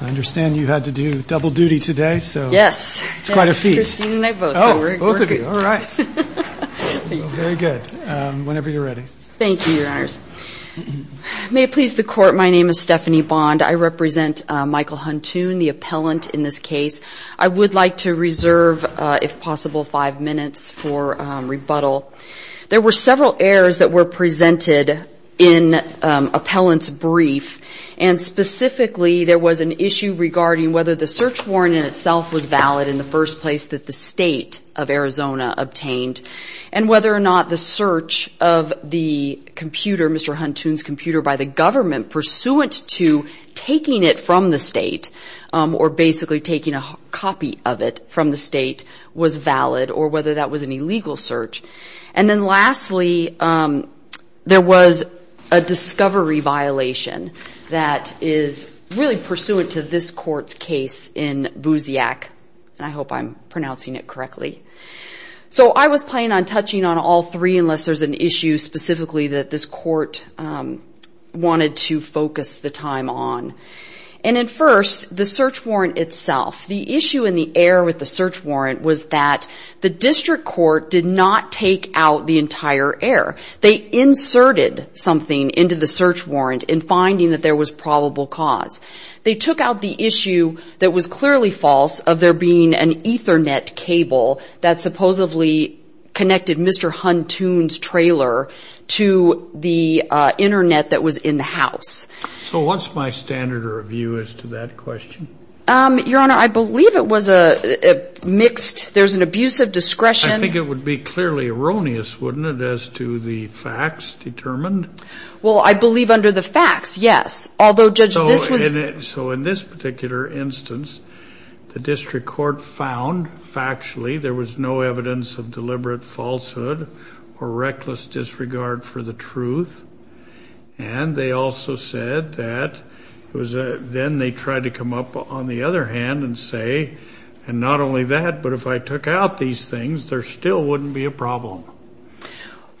I understand you had to do double duty today. Yes. It's quite a feat. Both of you. All right. Very good. Whenever you're ready. Thank you, Your Honors. May it please the Court, my name is Stephanie Bond. I represent Michael Huntoon, the appellant in this case. I would like to reserve, if possible, five minutes for rebuttal. There were several errors that were presented in appellant's brief, and specifically there was an issue regarding whether the search warrant in itself was valid in the first place that the state of Arizona obtained, and whether or not the search of the computer, Mr. Huntoon's computer, by the government pursuant to taking it from the state, or basically taking a copy of it from the state, was valid, or whether that was an illegal search. And then lastly, there was a discovery violation that is really pursuant to this Court's case in Busiak, and I hope I'm pronouncing it correctly. So I was planning on touching on all three, unless there's an issue specifically that this Court wanted to focus the time on. And then first, the search warrant itself. The issue and the error with the search warrant was that the district court did not take out the entire error. They inserted something into the search warrant in finding that there was probable cause. They took out the issue that was clearly false of there being an Ethernet cable that supposedly connected Mr. Huntoon's trailer to the Internet that was in the house. So what's my standard of review as to that question? Your Honor, I believe it was a mixed, there's an abuse of discretion. I think it would be clearly erroneous, wouldn't it, as to the facts determined? Well, I believe under the facts, yes. Although, Judge, this was... So in this particular instance, the district court found factually there was no evidence of deliberate falsehood or reckless disregard for the truth. And they also said that then they tried to come up on the other hand and say, and not only that, but if I took out these things, there still wouldn't be a problem.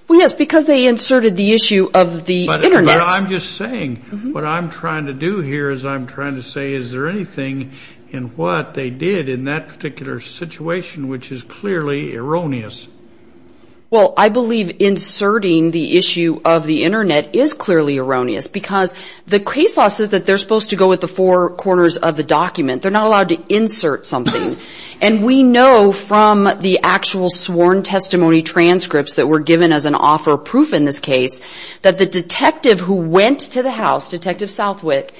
Well, yes, because they inserted the issue of the Internet. But I'm just saying, what I'm trying to do here is I'm trying to say, is there anything in what they did in that particular situation which is clearly erroneous? Well, I believe inserting the issue of the Internet is clearly erroneous because the case law says that they're supposed to go with the four corners of the document. They're not allowed to insert something. And we know from the actual sworn testimony transcripts that were given as an offer of proof in this case that the detective who went to the house, Detective Southwick,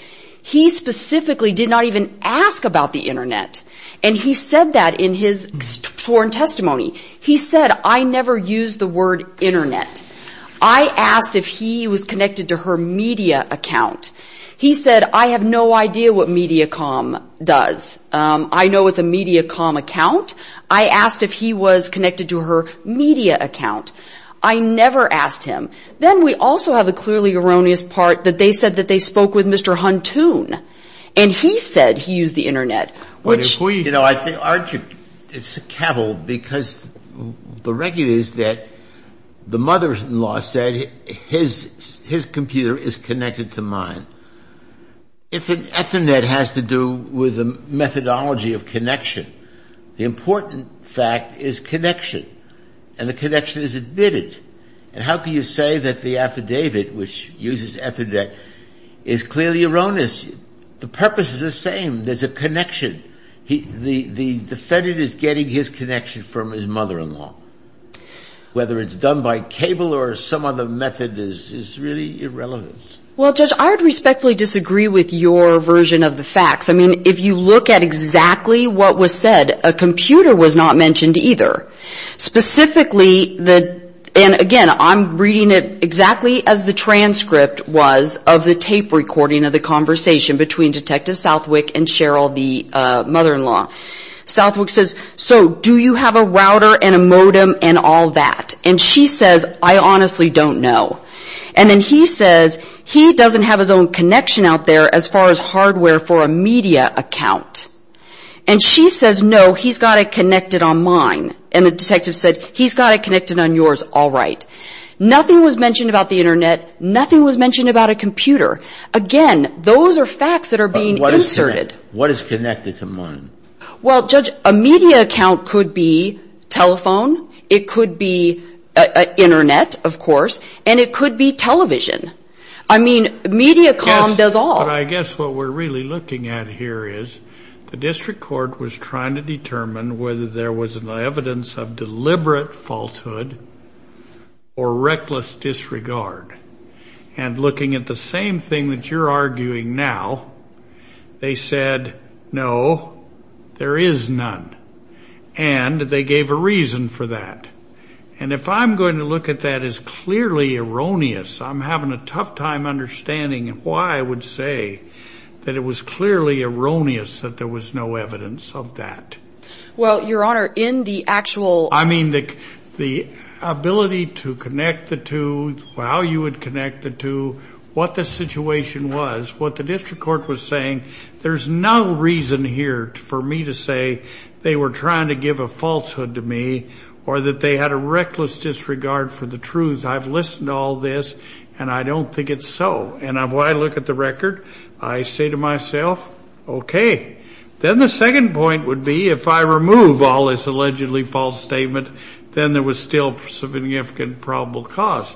he specifically did not even ask about the Internet. And he said that in his sworn testimony. He said, I never used the word Internet. I asked if he was connected to her media account. He said, I have no idea what Mediacom does. I know it's a Mediacom account. I asked if he was connected to her media account. I never asked him. Then we also have a clearly erroneous part that they said that they spoke with Mr. Huntoon. And he said he used the Internet. You know, it's a cavil because the record is that the mother-in-law said his computer is connected to mine. If an Ethernet has to do with the methodology of connection, the important fact is connection. And the connection is admitted. And how can you say that the affidavit which uses Ethernet is clearly erroneous? The purpose is the same. There's a connection. The defendant is getting his connection from his mother-in-law. Whether it's done by cable or some other method is really irrelevant. Well, Judge, I would respectfully disagree with your version of the facts. I mean, if you look at exactly what was said, a computer was not mentioned either. Specifically, and again, I'm reading it exactly as the transcript was of the tape recording of the conversation between Detective Southwick and Cheryl, the mother-in-law. Southwick says, so do you have a router and a modem and all that? And she says, I honestly don't know. And then he says, he doesn't have his own connection out there as far as hardware for a media account. And she says, no, he's got it connected on mine. And the detective said, he's got it connected on yours, all right. Nothing was mentioned about the Internet. Nothing was mentioned about a computer. Again, those are facts that are being inserted. What is connected to mine? Well, Judge, a media account could be telephone. It could be Internet, of course. And it could be television. I mean, MediaCom does all. But I guess what we're really looking at here is the district court was trying to determine whether there was an evidence of deliberate falsehood or reckless disregard. And looking at the same thing that you're arguing now, they said, no, there is none. And they gave a reason for that. And if I'm going to look at that as clearly erroneous, I'm having a tough time understanding why I would say that it was clearly erroneous that there was no evidence of that. Well, Your Honor, in the actual – how you would connect the two, what the situation was, what the district court was saying, there's no reason here for me to say they were trying to give a falsehood to me or that they had a reckless disregard for the truth. I've listened to all this, and I don't think it's so. And when I look at the record, I say to myself, okay. Then the second point would be if I remove all this allegedly false statement, then there was still significant probable cause.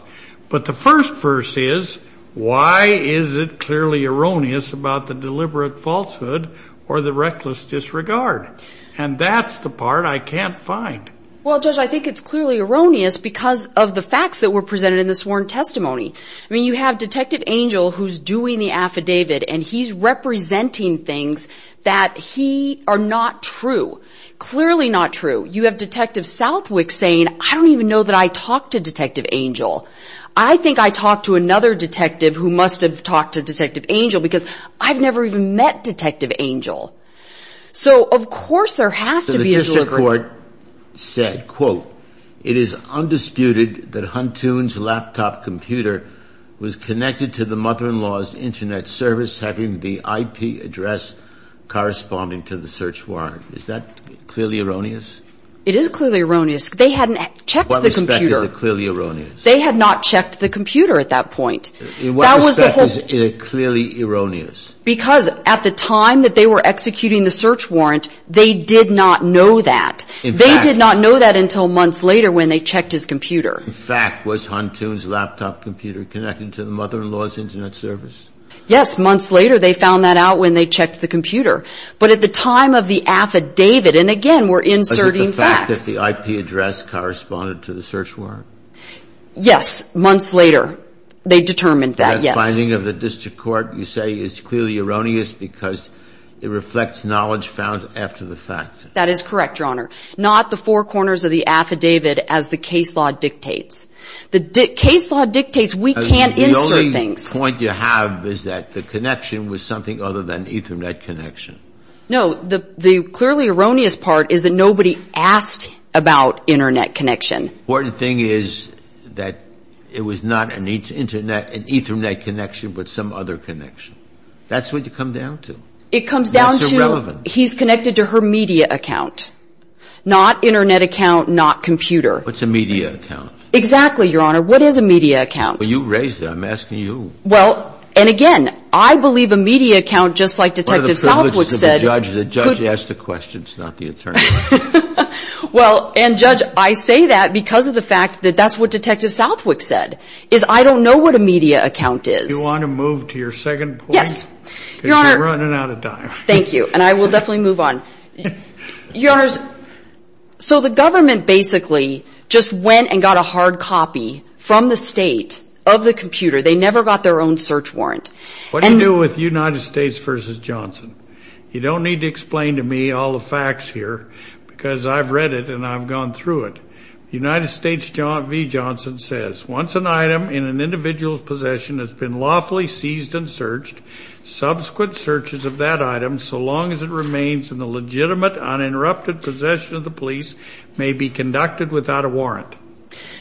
But the first verse is, why is it clearly erroneous about the deliberate falsehood or the reckless disregard? And that's the part I can't find. Well, Judge, I think it's clearly erroneous because of the facts that were presented in the sworn testimony. I mean, you have Detective Angel, who's doing the affidavit, and he's representing things that he – are not true, clearly not true. You have Detective Southwick saying, I don't even know that I talked to Detective Angel. I think I talked to another detective who must have talked to Detective Angel because I've never even met Detective Angel. So, of course, there has to be a deliberate – So the district court said, quote, it is undisputed that Huntoon's laptop computer was connected to the mother-in-law's Internet service having the IP address corresponding to the search warrant. Is that clearly erroneous? It is clearly erroneous. They hadn't checked the computer. In what respect is it clearly erroneous? They had not checked the computer at that point. In what respect is it clearly erroneous? Because at the time that they were executing the search warrant, they did not know that. In fact – They did not know that until months later when they checked his computer. In fact, was Huntoon's laptop computer connected to the mother-in-law's Internet service? Yes, months later they found that out when they checked the computer. But at the time of the affidavit – and, again, we're inserting facts. Was it the fact that the IP address corresponded to the search warrant? Yes, months later they determined that, yes. The finding of the district court, you say, is clearly erroneous because it reflects knowledge found after the fact. That is correct, Your Honor. Not the four corners of the affidavit as the case law dictates. The case law dictates we can't insert things. The point you have is that the connection was something other than Ethernet connection. No, the clearly erroneous part is that nobody asked about Internet connection. The important thing is that it was not an Ethernet connection but some other connection. That's what it comes down to. It comes down to – That's irrelevant. He's connected to her media account, not Internet account, not computer. What's a media account? Exactly, Your Honor. What is a media account? Well, you raised it. I'm asking you. Well, and again, I believe a media account, just like Detective Southwick said— One of the privileges of the judge is the judge asks the questions, not the attorney. Well, and, Judge, I say that because of the fact that that's what Detective Southwick said, is I don't know what a media account is. Do you want to move to your second point? Yes, Your Honor. Because you're running out of time. Thank you, and I will definitely move on. Your Honors, so the government basically just went and got a hard copy from the state of the computer. They never got their own search warrant. What do you do with United States v. Johnson? You don't need to explain to me all the facts here because I've read it and I've gone through it. United States v. Johnson says, Once an item in an individual's possession has been lawfully seized and searched, subsequent searches of that item, so long as it remains in the legitimate uninterrupted possession of the police, may be conducted without a warrant.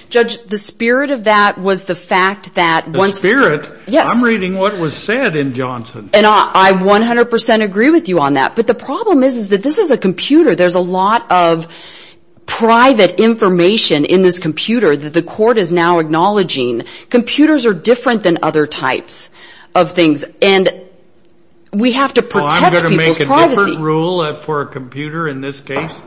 Judge, the spirit of that was the fact that once— The spirit? Yes. I'm reading what was said in Johnson. And I 100% agree with you on that. But the problem is that this is a computer. There's a lot of private information in this computer that the court is now acknowledging. Computers are different than other types of things. And we have to protect people's privacy. Well, I'm going to make a different rule for a computer in this case.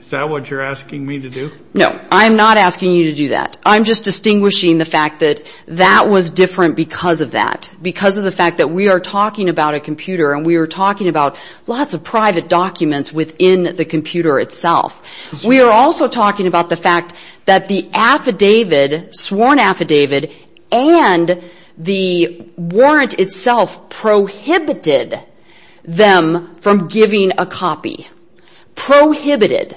Is that what you're asking me to do? No, I'm not asking you to do that. I'm just distinguishing the fact that that was different because of that, because of the fact that we are talking about a computer and we are talking about lots of private documents within the computer itself. We are also talking about the fact that the affidavit, sworn affidavit, and the warrant itself prohibited them from giving a copy. Prohibited.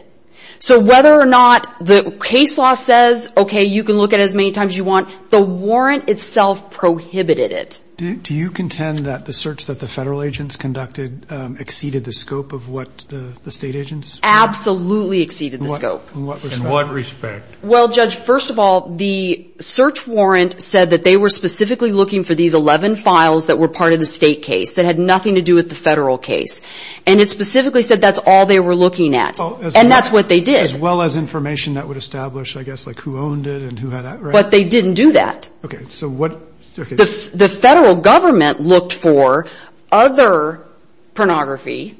So whether or not the case law says, okay, you can look at it as many times as you want, the warrant itself prohibited it. Do you contend that the search that the federal agents conducted exceeded the scope of what the state agents? Absolutely exceeded the scope. In what respect? Well, Judge, first of all, the search warrant said that they were specifically looking for these 11 files that were part of the state case that had nothing to do with the federal case. And it specifically said that's all they were looking at. And that's what they did. As well as information that would establish, I guess, like who owned it and who had it, right? But they didn't do that. Okay. The federal government looked for other pornography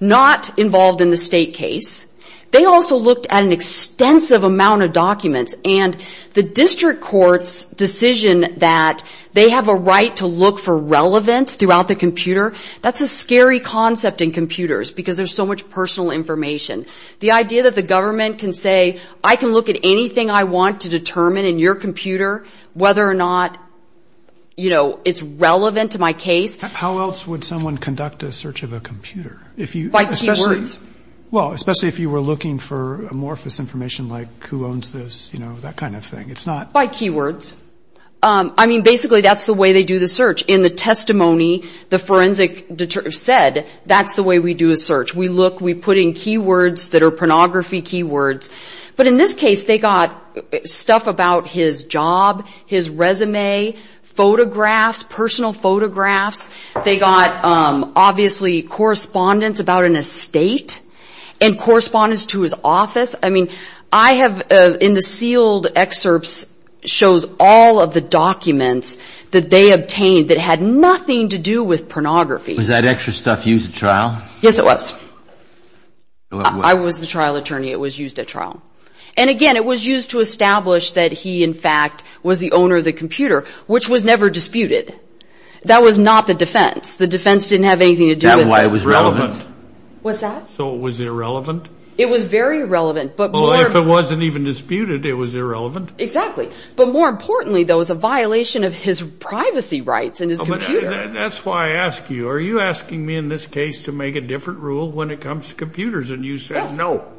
not involved in the state case. They also looked at an extensive amount of documents. And the district court's decision that they have a right to look for relevance throughout the computer, that's a scary concept in computers because there's so much personal information. The idea that the government can say, I can look at anything I want to determine in your computer, whether or not, you know, it's relevant to my case. How else would someone conduct a search of a computer? By keywords. Well, especially if you were looking for amorphous information like who owns this, you know, that kind of thing. By keywords. I mean, basically, that's the way they do the search. In the testimony, the forensic said that's the way we do a search. We look, we put in keywords that are pornography keywords. But in this case, they got stuff about his job, his resume, photographs, personal photographs. They got, obviously, correspondence about an estate and correspondence to his office. I mean, I have in the sealed excerpts shows all of the documents that they obtained that had nothing to do with pornography. Was that extra stuff used at trial? Yes, it was. I was the trial attorney. It was used at trial. And, again, it was used to establish that he, in fact, was the owner of the computer, which was never disputed. That was not the defense. The defense didn't have anything to do with it. That's why it was relevant. What's that? So it was irrelevant? It was very relevant. Well, if it wasn't even disputed, it was irrelevant. Exactly. But more importantly, though, it was a violation of his privacy rights and his computer. That's why I ask you, are you asking me in this case to make a different rule when it comes to computers? And you said no.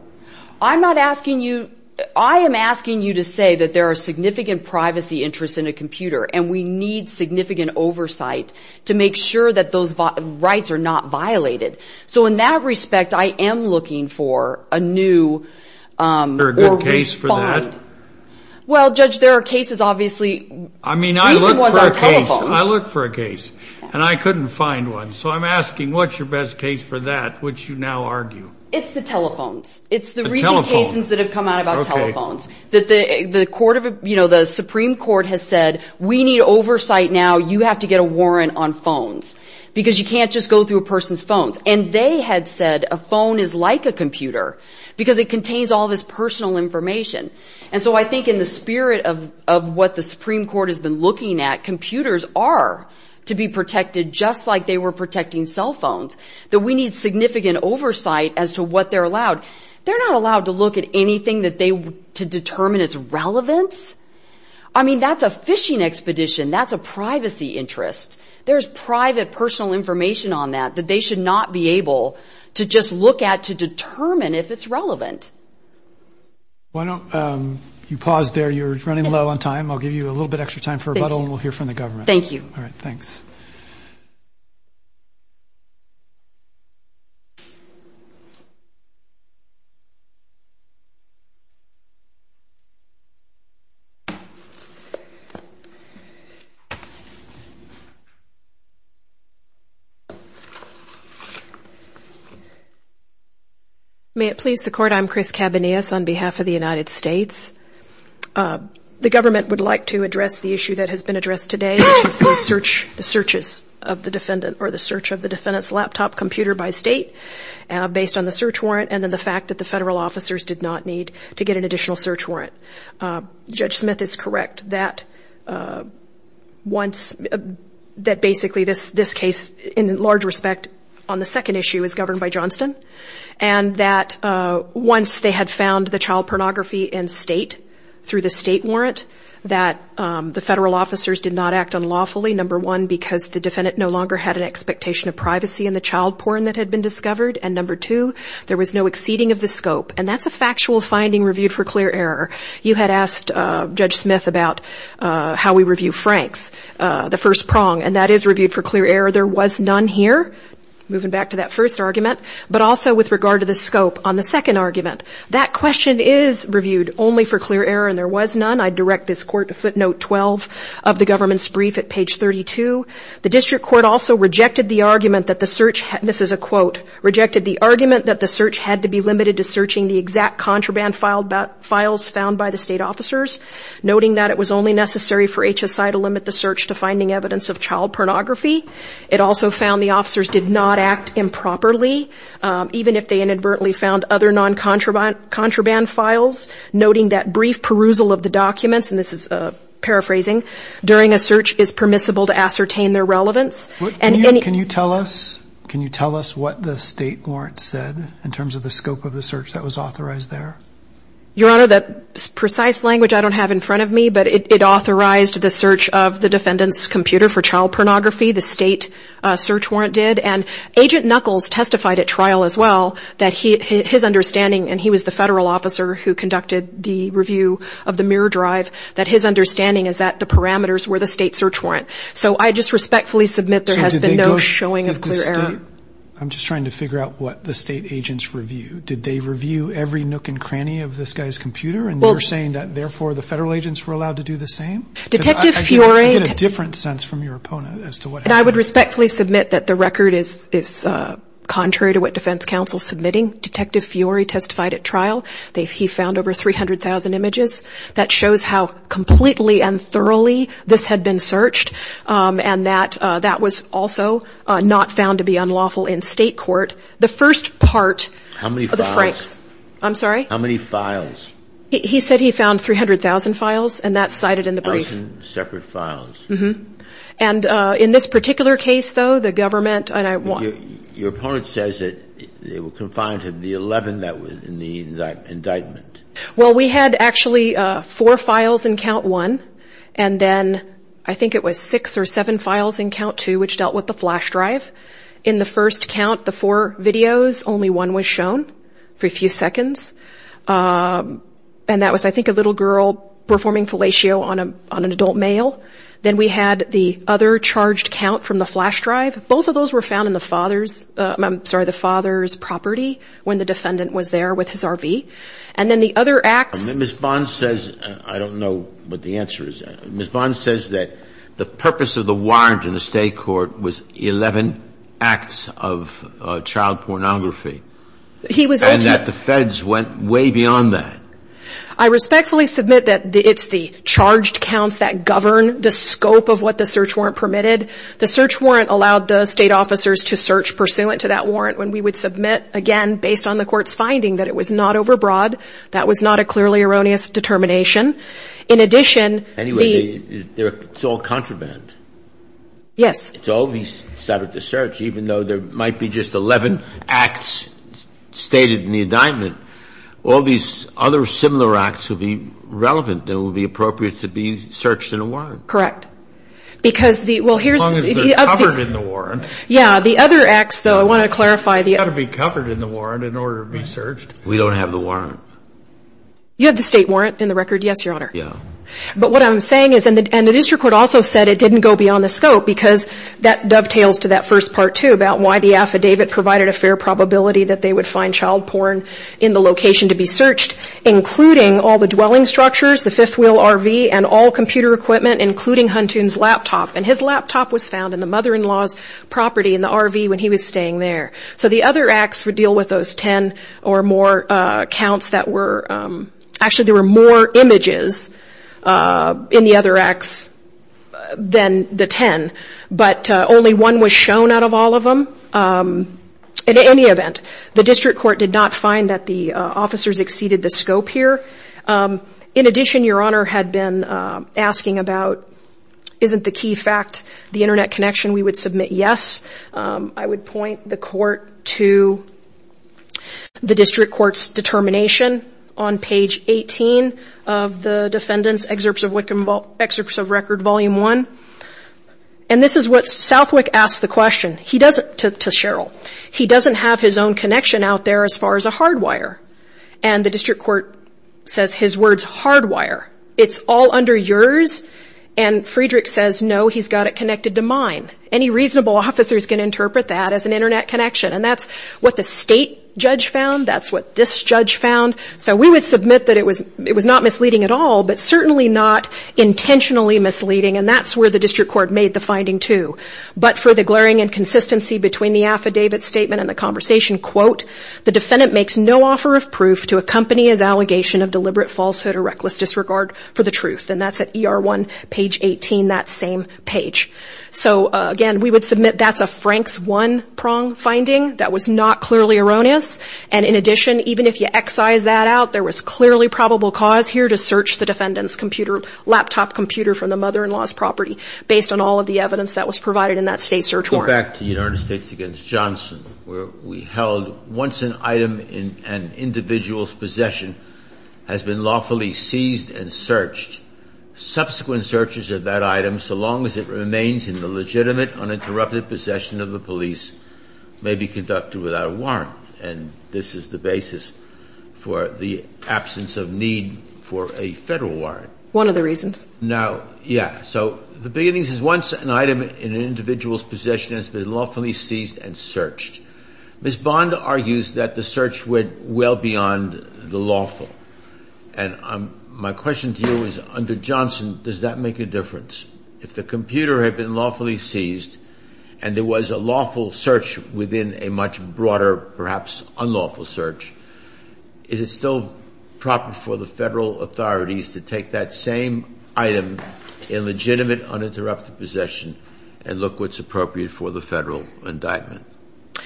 I'm not asking you. I am asking you to say that there are significant privacy interests in a computer, and we need significant oversight to make sure that those rights are not violated. So in that respect, I am looking for a new or refined. Is there a good case for that? Well, Judge, there are cases, obviously. I mean, I look for a case. I look for a case, and I couldn't find one. So I'm asking, what's your best case for that, which you now argue? It's the telephones. It's the recent cases that have come out about telephones. The Supreme Court has said we need oversight now. You have to get a warrant on phones because you can't just go through a person's phones. And they had said a phone is like a computer because it contains all this personal information. And so I think in the spirit of what the Supreme Court has been looking at, computers are to be protected just like they were protecting cell phones, that we need significant oversight as to what they're allowed. They're not allowed to look at anything to determine its relevance. I mean, that's a phishing expedition. That's a privacy interest. There's private personal information on that that they should not be able to just look at to determine if it's relevant. Why don't you pause there? You're running low on time. I'll give you a little bit extra time for rebuttal, and we'll hear from the government. Thank you. All right, thanks. Thank you. May it please the Court, I'm Chris Cabanillas on behalf of the United States. The government would like to address the issue that has been addressed today, which is the search of the defendant's laptop computer by state based on the search warrant and then the fact that the federal officers did not need to get an additional search warrant. Judge Smith is correct that basically this case, in large respect, on the second issue is governed by Johnston, and that once they had found the child pornography in state through the state warrant, that the federal officers did not act unlawfully, number one, because the defendant no longer had an expectation of privacy in the child porn that had been discovered, and number two, there was no exceeding of the scope. And that's a factual finding reviewed for clear error. You had asked Judge Smith about how we review Franks, the first prong, and that is reviewed for clear error. There was none here, moving back to that first argument, but also with regard to the scope on the second argument. That question is reviewed only for clear error, and there was none. I direct this court to footnote 12 of the government's brief at page 32. The district court also rejected the argument that the search, this is a quote, rejected the argument that the search had to be limited to searching the exact contraband files found by the state officers, noting that it was only necessary for HSI to limit the search to finding evidence of child pornography. It also found the officers did not act improperly, even if they inadvertently found other non-contraband files, noting that brief perusal of the documents, and this is paraphrasing, during a search is permissible to ascertain their relevance. Can you tell us what the state warrant said in terms of the scope of the search that was authorized there? Your Honor, the precise language I don't have in front of me, but it authorized the search of the defendant's computer for child pornography, the state search warrant did. And Agent Knuckles testified at trial as well that his understanding, and he was the federal officer who conducted the review of the mirror drive, that his understanding is that the parameters were the state search warrant. So I just respectfully submit there has been no showing of clear error. I'm just trying to figure out what the state agents reviewed. Did they review every nook and cranny of this guy's computer, and you're saying that therefore the federal agents were allowed to do the same? Detective Fiore. I get a different sense from your opponent as to what happened. And I would respectfully submit that the record is contrary to what defense counsel is submitting. Detective Fiore testified at trial. He found over 300,000 images. That shows how completely and thoroughly this had been searched, and that that was also not found to be unlawful in state court. The first part of the Franks. How many files? I'm sorry? How many files? He said he found 300,000 files, and that's cited in the brief. Thousand separate files. Mm-hmm. And in this particular case, though, the government and I want to. Your opponent says that they were confined to the 11 that was in the indictment. Well, we had actually four files in count one, and then I think it was six or seven files in count two which dealt with the flash drive. In the first count, the four videos, only one was shown for a few seconds, and that was, I think, a little girl performing fellatio on an adult male. Then we had the other charged count from the flash drive. Both of those were found in the father's property when the defendant was there with his RV. And then the other acts. Ms. Bond says, I don't know what the answer is. Ms. Bond says that the purpose of the warrant in the state court was 11 acts of child pornography. He was. And that the feds went way beyond that. I respectfully submit that it's the charged counts that govern the scope of what the search warrant permitted. The search warrant allowed the state officers to search pursuant to that warrant when we would submit, again, based on the court's finding that it was not overbroad. That was not a clearly erroneous determination. In addition, the. Anyway, it's all contraband. Yes. It's always set up to search, even though there might be just 11 acts stated in the indictment. All these other similar acts would be relevant and would be appropriate to be searched in a warrant. Correct. Why? Because the. Well, here's. As long as they're covered in the warrant. Yeah. The other acts, though, I want to clarify. They've got to be covered in the warrant in order to be searched. We don't have the warrant. You have the state warrant in the record? Yes, Your Honor. Yeah. But what I'm saying is. And the district court also said it didn't go beyond the scope because that dovetails to that first part, too, about why the affidavit provided a fair probability that they would find child porn in the location to be searched, including all the dwelling structures, the And his laptop was found in the mother-in-law's property in the RV when he was staying there. So the other acts would deal with those 10 or more counts that were. Actually, there were more images in the other acts than the 10, but only one was shown out of all of them. In any event, the district court did not find that the officers exceeded the scope here. In addition, Your Honor had been asking about isn't the key fact the internet connection we would submit? Yes. I would point the court to the district court's determination on page 18 of the defendant's excerpts of record volume one. And this is what Southwick asked the question to Sheryl. He doesn't have his own connection out there as far as a hardwire. And the district court says his words hardwire. It's all under yours. And Friedrich says, no, he's got it connected to mine. Any reasonable officer is going to interpret that as an internet connection. And that's what the state judge found. That's what this judge found. So we would submit that it was not misleading at all, but certainly not intentionally misleading. And that's where the district court made the finding, too. But for the glaring inconsistency between the affidavit statement and the conversation, quote, the defendant makes no offer of proof to accompany his allegation of deliberate falsehood or reckless disregard for the truth. And that's at ER1, page 18, that same page. So, again, we would submit that's a Frank's one-prong finding. That was not clearly erroneous. And in addition, even if you excise that out, there was clearly probable cause here to search the defendant's laptop computer from the mother-in-law's property based on all of the evidence that was provided in that state search warrant. Let's go back to United States v. Johnson, where we held once an item in an individual's possession has been lawfully seized and searched, subsequent searches of that item, so long as it remains in the legitimate, uninterrupted possession of the police, may be conducted without a warrant. And this is the basis for the absence of need for a Federal warrant. One of the reasons. No, yeah. So the basis is once an item in an individual's possession has been lawfully seized and searched. Ms. Bond argues that the search went well beyond the lawful. And my question to you is, under Johnson, does that make a difference? If the computer had been lawfully seized and there was a lawful search within a much broader, perhaps unlawful search, is it still proper for the Federal authorities to take that same item in legitimate, uninterrupted possession and look what's appropriate for the Federal indictment?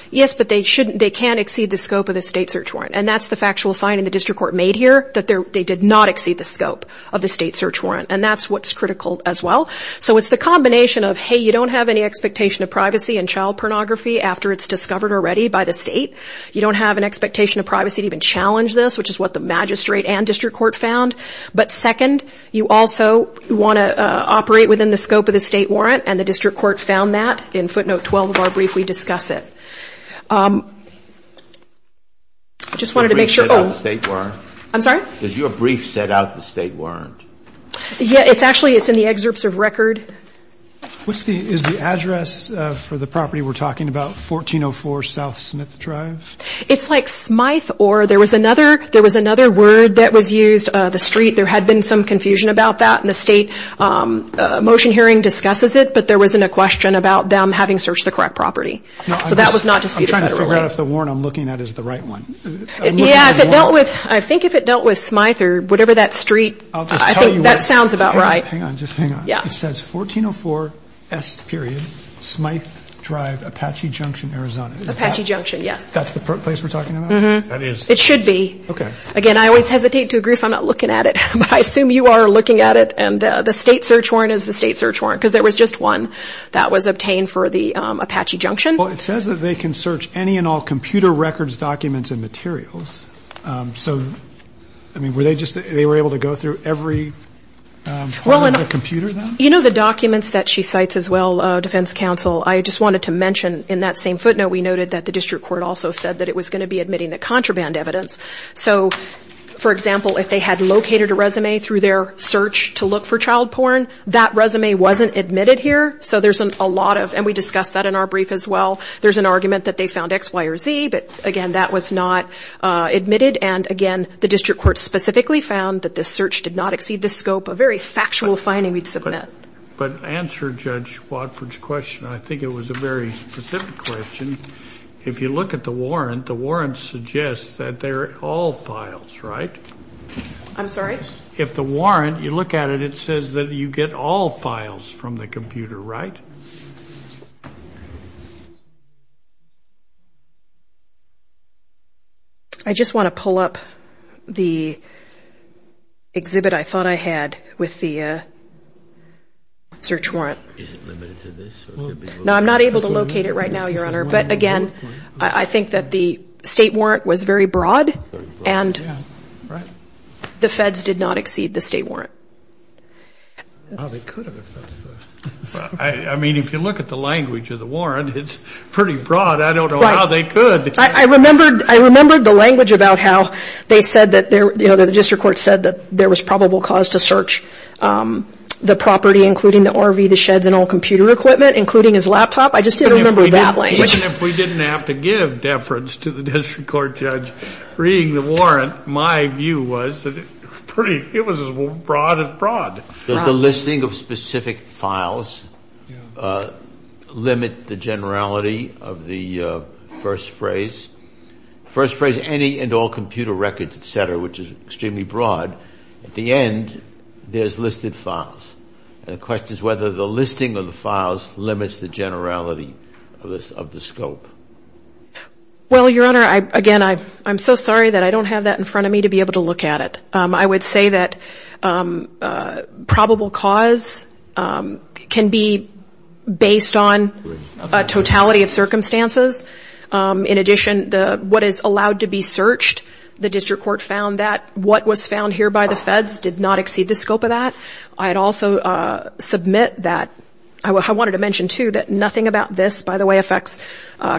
Yes, but they can't exceed the scope of the state search warrant. And that's the factual finding the district court made here, that they did not exceed the scope of the state search warrant. And that's what's critical as well. So it's the combination of, hey, you don't have any expectation of privacy in child pornography after it's discovered already by the state. You don't have an expectation of privacy to even challenge this, which is what the magistrate and district court found. But second, you also want to operate within the scope of the state warrant, and the district court found that. In footnote 12 of our brief, we discuss it. I just wanted to make sure. Does your brief set out the state warrant? I'm sorry? Does your brief set out the state warrant? Yeah, it's actually in the excerpts of record. Is the address for the property we're talking about 1404 South Smith Drive? It's like Smyth or there was another word that was used, the street. There had been some confusion about that, and the state motion hearing discusses it, but there wasn't a question about them having searched the correct property. So that was not disputed federally. I'm trying to figure out if the warrant I'm looking at is the right one. Yeah, I think if it dealt with Smyth or whatever that street, I think that sounds about right. Hang on, just hang on. It says 1404 S., Smyth Drive, Apache Junction, Arizona. Apache Junction, yes. That's the place we're talking about? Mm-hmm. It should be. Okay. Again, I always hesitate to agree if I'm not looking at it, but I assume you are looking at it, and the state search warrant is the state search warrant, because there was just one that was obtained for the Apache Junction. Well, it says that they can search any and all computer records, documents, and materials. So, I mean, were they just able to go through every part of the computer then? You know, the documents that she cites as well, Defense Counsel, I just wanted to mention in that same footnote, we noted that the district court also said that it was going to be admitting the contraband evidence. So, for example, if they had located a resume through their search to look for child porn, that resume wasn't admitted here. So there's a lot of, and we discussed that in our brief as well, there's an argument that they found X, Y, or Z, but, again, that was not admitted. And, again, the district court specifically found that this search did not exceed the scope, a very factual finding we'd submit. But to answer Judge Watford's question, I think it was a very specific question, if you look at the warrant, the warrant suggests that they're all files, right? I'm sorry? If the warrant, you look at it, it says that you get all files from the computer, right? I just want to pull up the exhibit I thought I had with the search warrant. Now, I'm not able to locate it right now, Your Honor, but, again, I think that the state warrant was very broad, and the feds did not exceed the state warrant. Well, they could have if that's the... I mean, if you look at the language of the warrant, it's pretty broad. I don't know how they could. I remembered the language about how they said that, you know, the district court said that there was probable cause to search the property, including the RV, the sheds, and all computer equipment, including his laptop. I just didn't remember that language. Even if we didn't have to give deference to the district court judge reading the warrant, my view was that it was as broad as broad. Does the listing of specific files limit the generality of the first phrase? First phrase, any and all computer records, et cetera, which is extremely broad. At the end, there's listed files, and the question is whether the listing of the files limits the generality of the scope. Well, Your Honor, again, I'm so sorry that I don't have that in front of me to be able to look at it. I would say that probable cause can be based on a totality of circumstances. In addition, what is allowed to be searched, the district court found that what was found here by the feds did not exceed the scope of that. I'd also submit that I wanted to mention, too, that nothing about this, by the way, affects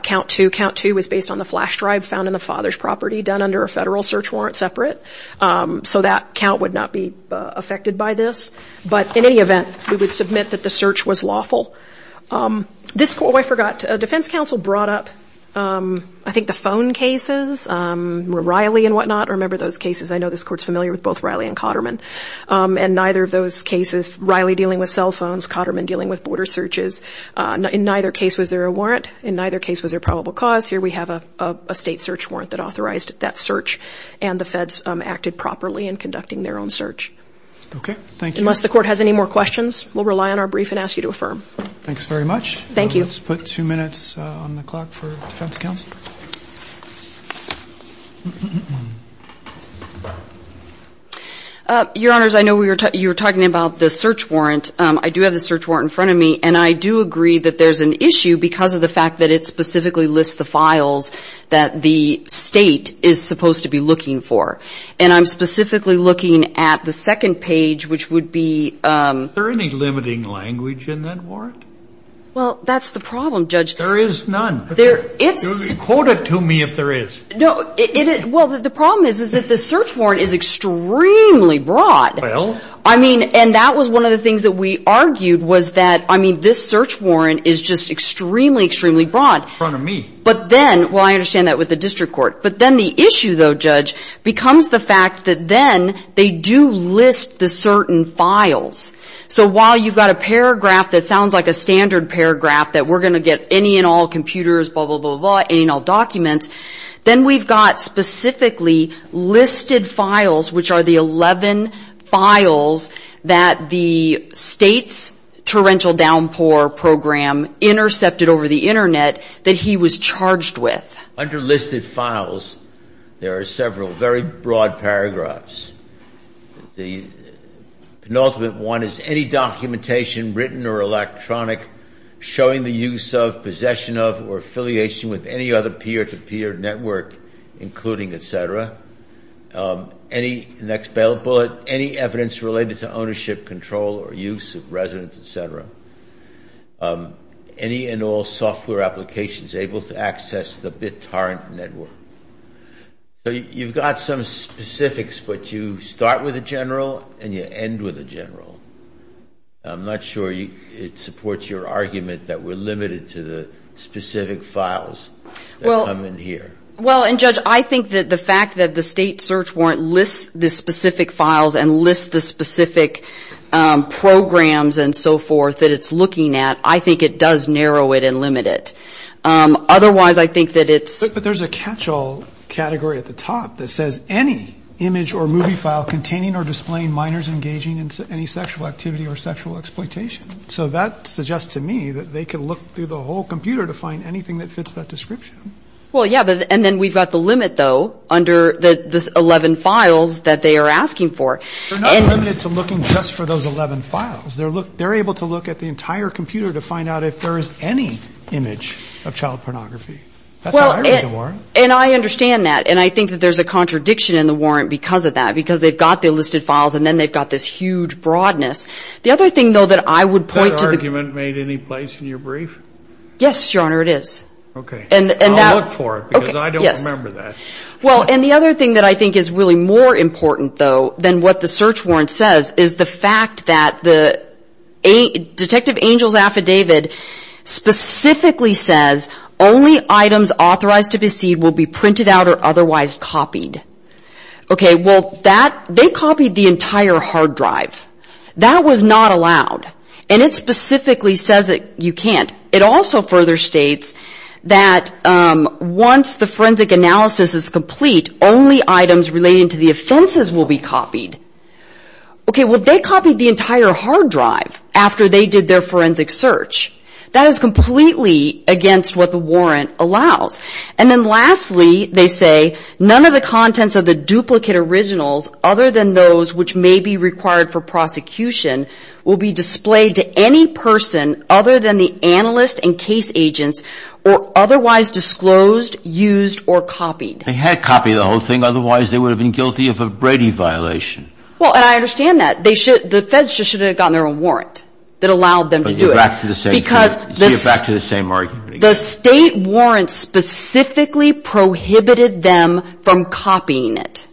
count two. Count two was based on the flash drive found in the father's property, done under a federal search warrant separate. So that count would not be affected by this. But in any event, we would submit that the search was lawful. Oh, I forgot. Defense counsel brought up, I think, the phone cases, Riley and whatnot. I remember those cases. I know this Court's familiar with both Riley and Cotterman. And neither of those cases, Riley dealing with cell phones, Cotterman dealing with border searches, in neither case was there a warrant, in neither case was there probable cause. Here we have a state search warrant that authorized that search, and the feds acted properly in conducting their own search. Okay, thank you. Unless the Court has any more questions, we'll rely on our brief and ask you to affirm. Thanks very much. Thank you. Let's put two minutes on the clock for defense counsel. Your Honors, I know you were talking about the search warrant. I do have the search warrant in front of me, and I do agree that there's an issue because of the fact that it specifically lists the files that the state is supposed to be looking for. And I'm specifically looking at the second page, which would be ---- Is there any limiting language in that warrant? Well, that's the problem, Judge. There is none. It's ---- Quote it to me if there is. Well, the problem is that the search warrant is extremely broad. Well ---- I mean, and that was one of the things that we argued was that, I mean, this search warrant is just extremely, extremely broad. It's in front of me. But then, well, I understand that with the district court. But then the issue, though, Judge, becomes the fact that then they do list the certain files. So while you've got a paragraph that sounds like a standard paragraph that we're going to get any and all computers, blah, blah, blah, blah, any and all documents, then we've got specifically listed files, which are the 11 files that the state's torrential downpour program intercepted over the Internet that he was charged with. Under listed files, there are several very broad paragraphs. The penultimate one is any documentation, written or electronic, showing the use of, possession of, or affiliation with any other peer-to-peer network, including, et cetera. Any, next bullet, any evidence related to ownership, control, or use of residence, et cetera. Any and all software applications able to access the BitTorrent network. You've got some specifics, but you start with a general and you end with a general. I'm not sure it supports your argument that we're limited to the specific files that come in here. Well, and Judge, I think that the fact that the state search warrant lists the specific files and lists the specific programs and so forth that it's looking at, I think it does narrow it and limit it. Otherwise, I think that it's... But there's a catch-all category at the top that says any image or movie file containing or displaying minors engaging in any sexual activity or sexual exploitation. So that suggests to me that they could look through the whole computer to find anything that fits that description. Well, yeah. And then we've got the limit, though, under the 11 files that they are asking for. They're not limited to looking just for those 11 files. They're able to look at the entire computer to find out if there is any image of child pornography. That's how I read the warrant. And I understand that. And I think that there's a contradiction in the warrant because of that, because they've got the listed files and then they've got this huge broadness. The other thing, though, that I would point to... That argument made any place in your brief? Yes, Your Honor, it is. Okay. I'll look for it because I don't remember that. Well, and the other thing that I think is really more important, though, than what the search warrant says is the fact that the Detective Angel's affidavit specifically says only items authorized to be seen will be printed out or otherwise copied. Okay, well, they copied the entire hard drive. That was not allowed. And it specifically says that you can't. It also further states that once the forensic analysis is complete, only items relating to the offenses will be copied. Okay, well, they copied the entire hard drive after they did their forensic search. That is completely against what the warrant allows. And then lastly, they say none of the contents of the duplicate originals other than those which may be required for prosecution will be displayed to any person other than the analyst and case agents or otherwise disclosed, used, or copied. They had to copy the whole thing. Otherwise, they would have been guilty of a Brady violation. Well, and I understand that. The feds just should have gotten their own warrant that allowed them to do it. But you're back to the same thing. You're back to the same argument again. The state warrant specifically prohibited them from copying it.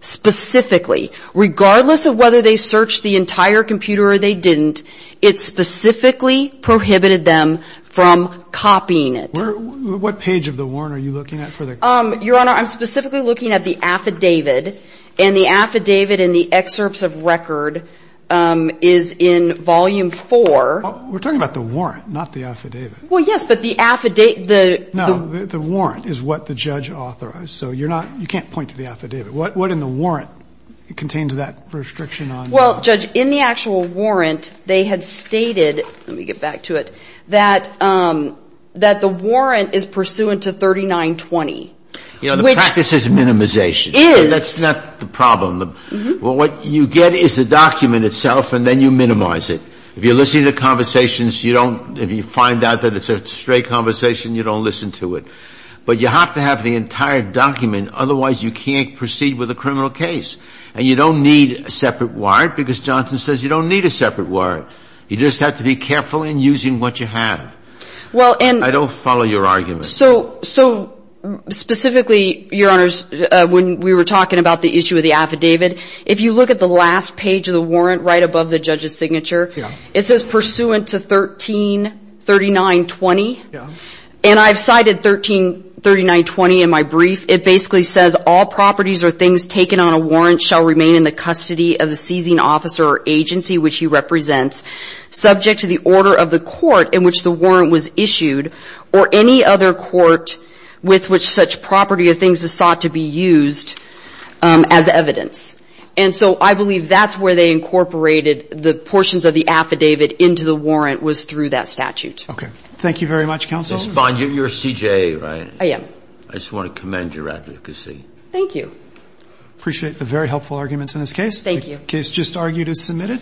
Specifically. Regardless of whether they searched the entire computer or they didn't, it specifically prohibited them from copying it. What page of the warrant are you looking at for the copy? Your Honor, I'm specifically looking at the affidavit. And the affidavit in the excerpts of record is in volume four. We're talking about the warrant, not the affidavit. Well, yes, but the affidavit. No, the warrant is what the judge authorized. So you're not, you can't point to the affidavit. What in the warrant contains that restriction on? Well, Judge, in the actual warrant, they had stated, let me get back to it, that the warrant is pursuant to 3920. You know, the practice is minimization. It is. That's not the problem. Well, what you get is the document itself, and then you minimize it. If you listen to the conversations, you don't, if you find out that it's a straight conversation, you don't listen to it. But you have to have the entire document. Otherwise, you can't proceed with a criminal case. And you don't need a separate warrant because Johnson says you don't need a separate warrant. You just have to be careful in using what you have. I don't follow your argument. So specifically, Your Honors, when we were talking about the issue of the affidavit, if you look at the last page of the warrant right above the judge's signature, it says pursuant to 133920. And I've cited 133920 in my brief. It basically says all properties or things taken on a warrant shall remain in the custody of the seizing officer or agency which he represents subject to the order of the court in which the warrant was issued or any other court with which such property or things is sought to be used as evidence. And so I believe that's where they incorporated the portions of the affidavit into the warrant was through that statute. Okay. Thank you very much, counsel. Ms. Bond, you're CJA, right? I am. I just want to commend your advocacy. Thank you. Appreciate the very helpful arguments in this case. Thank you. The case just argued is submitted.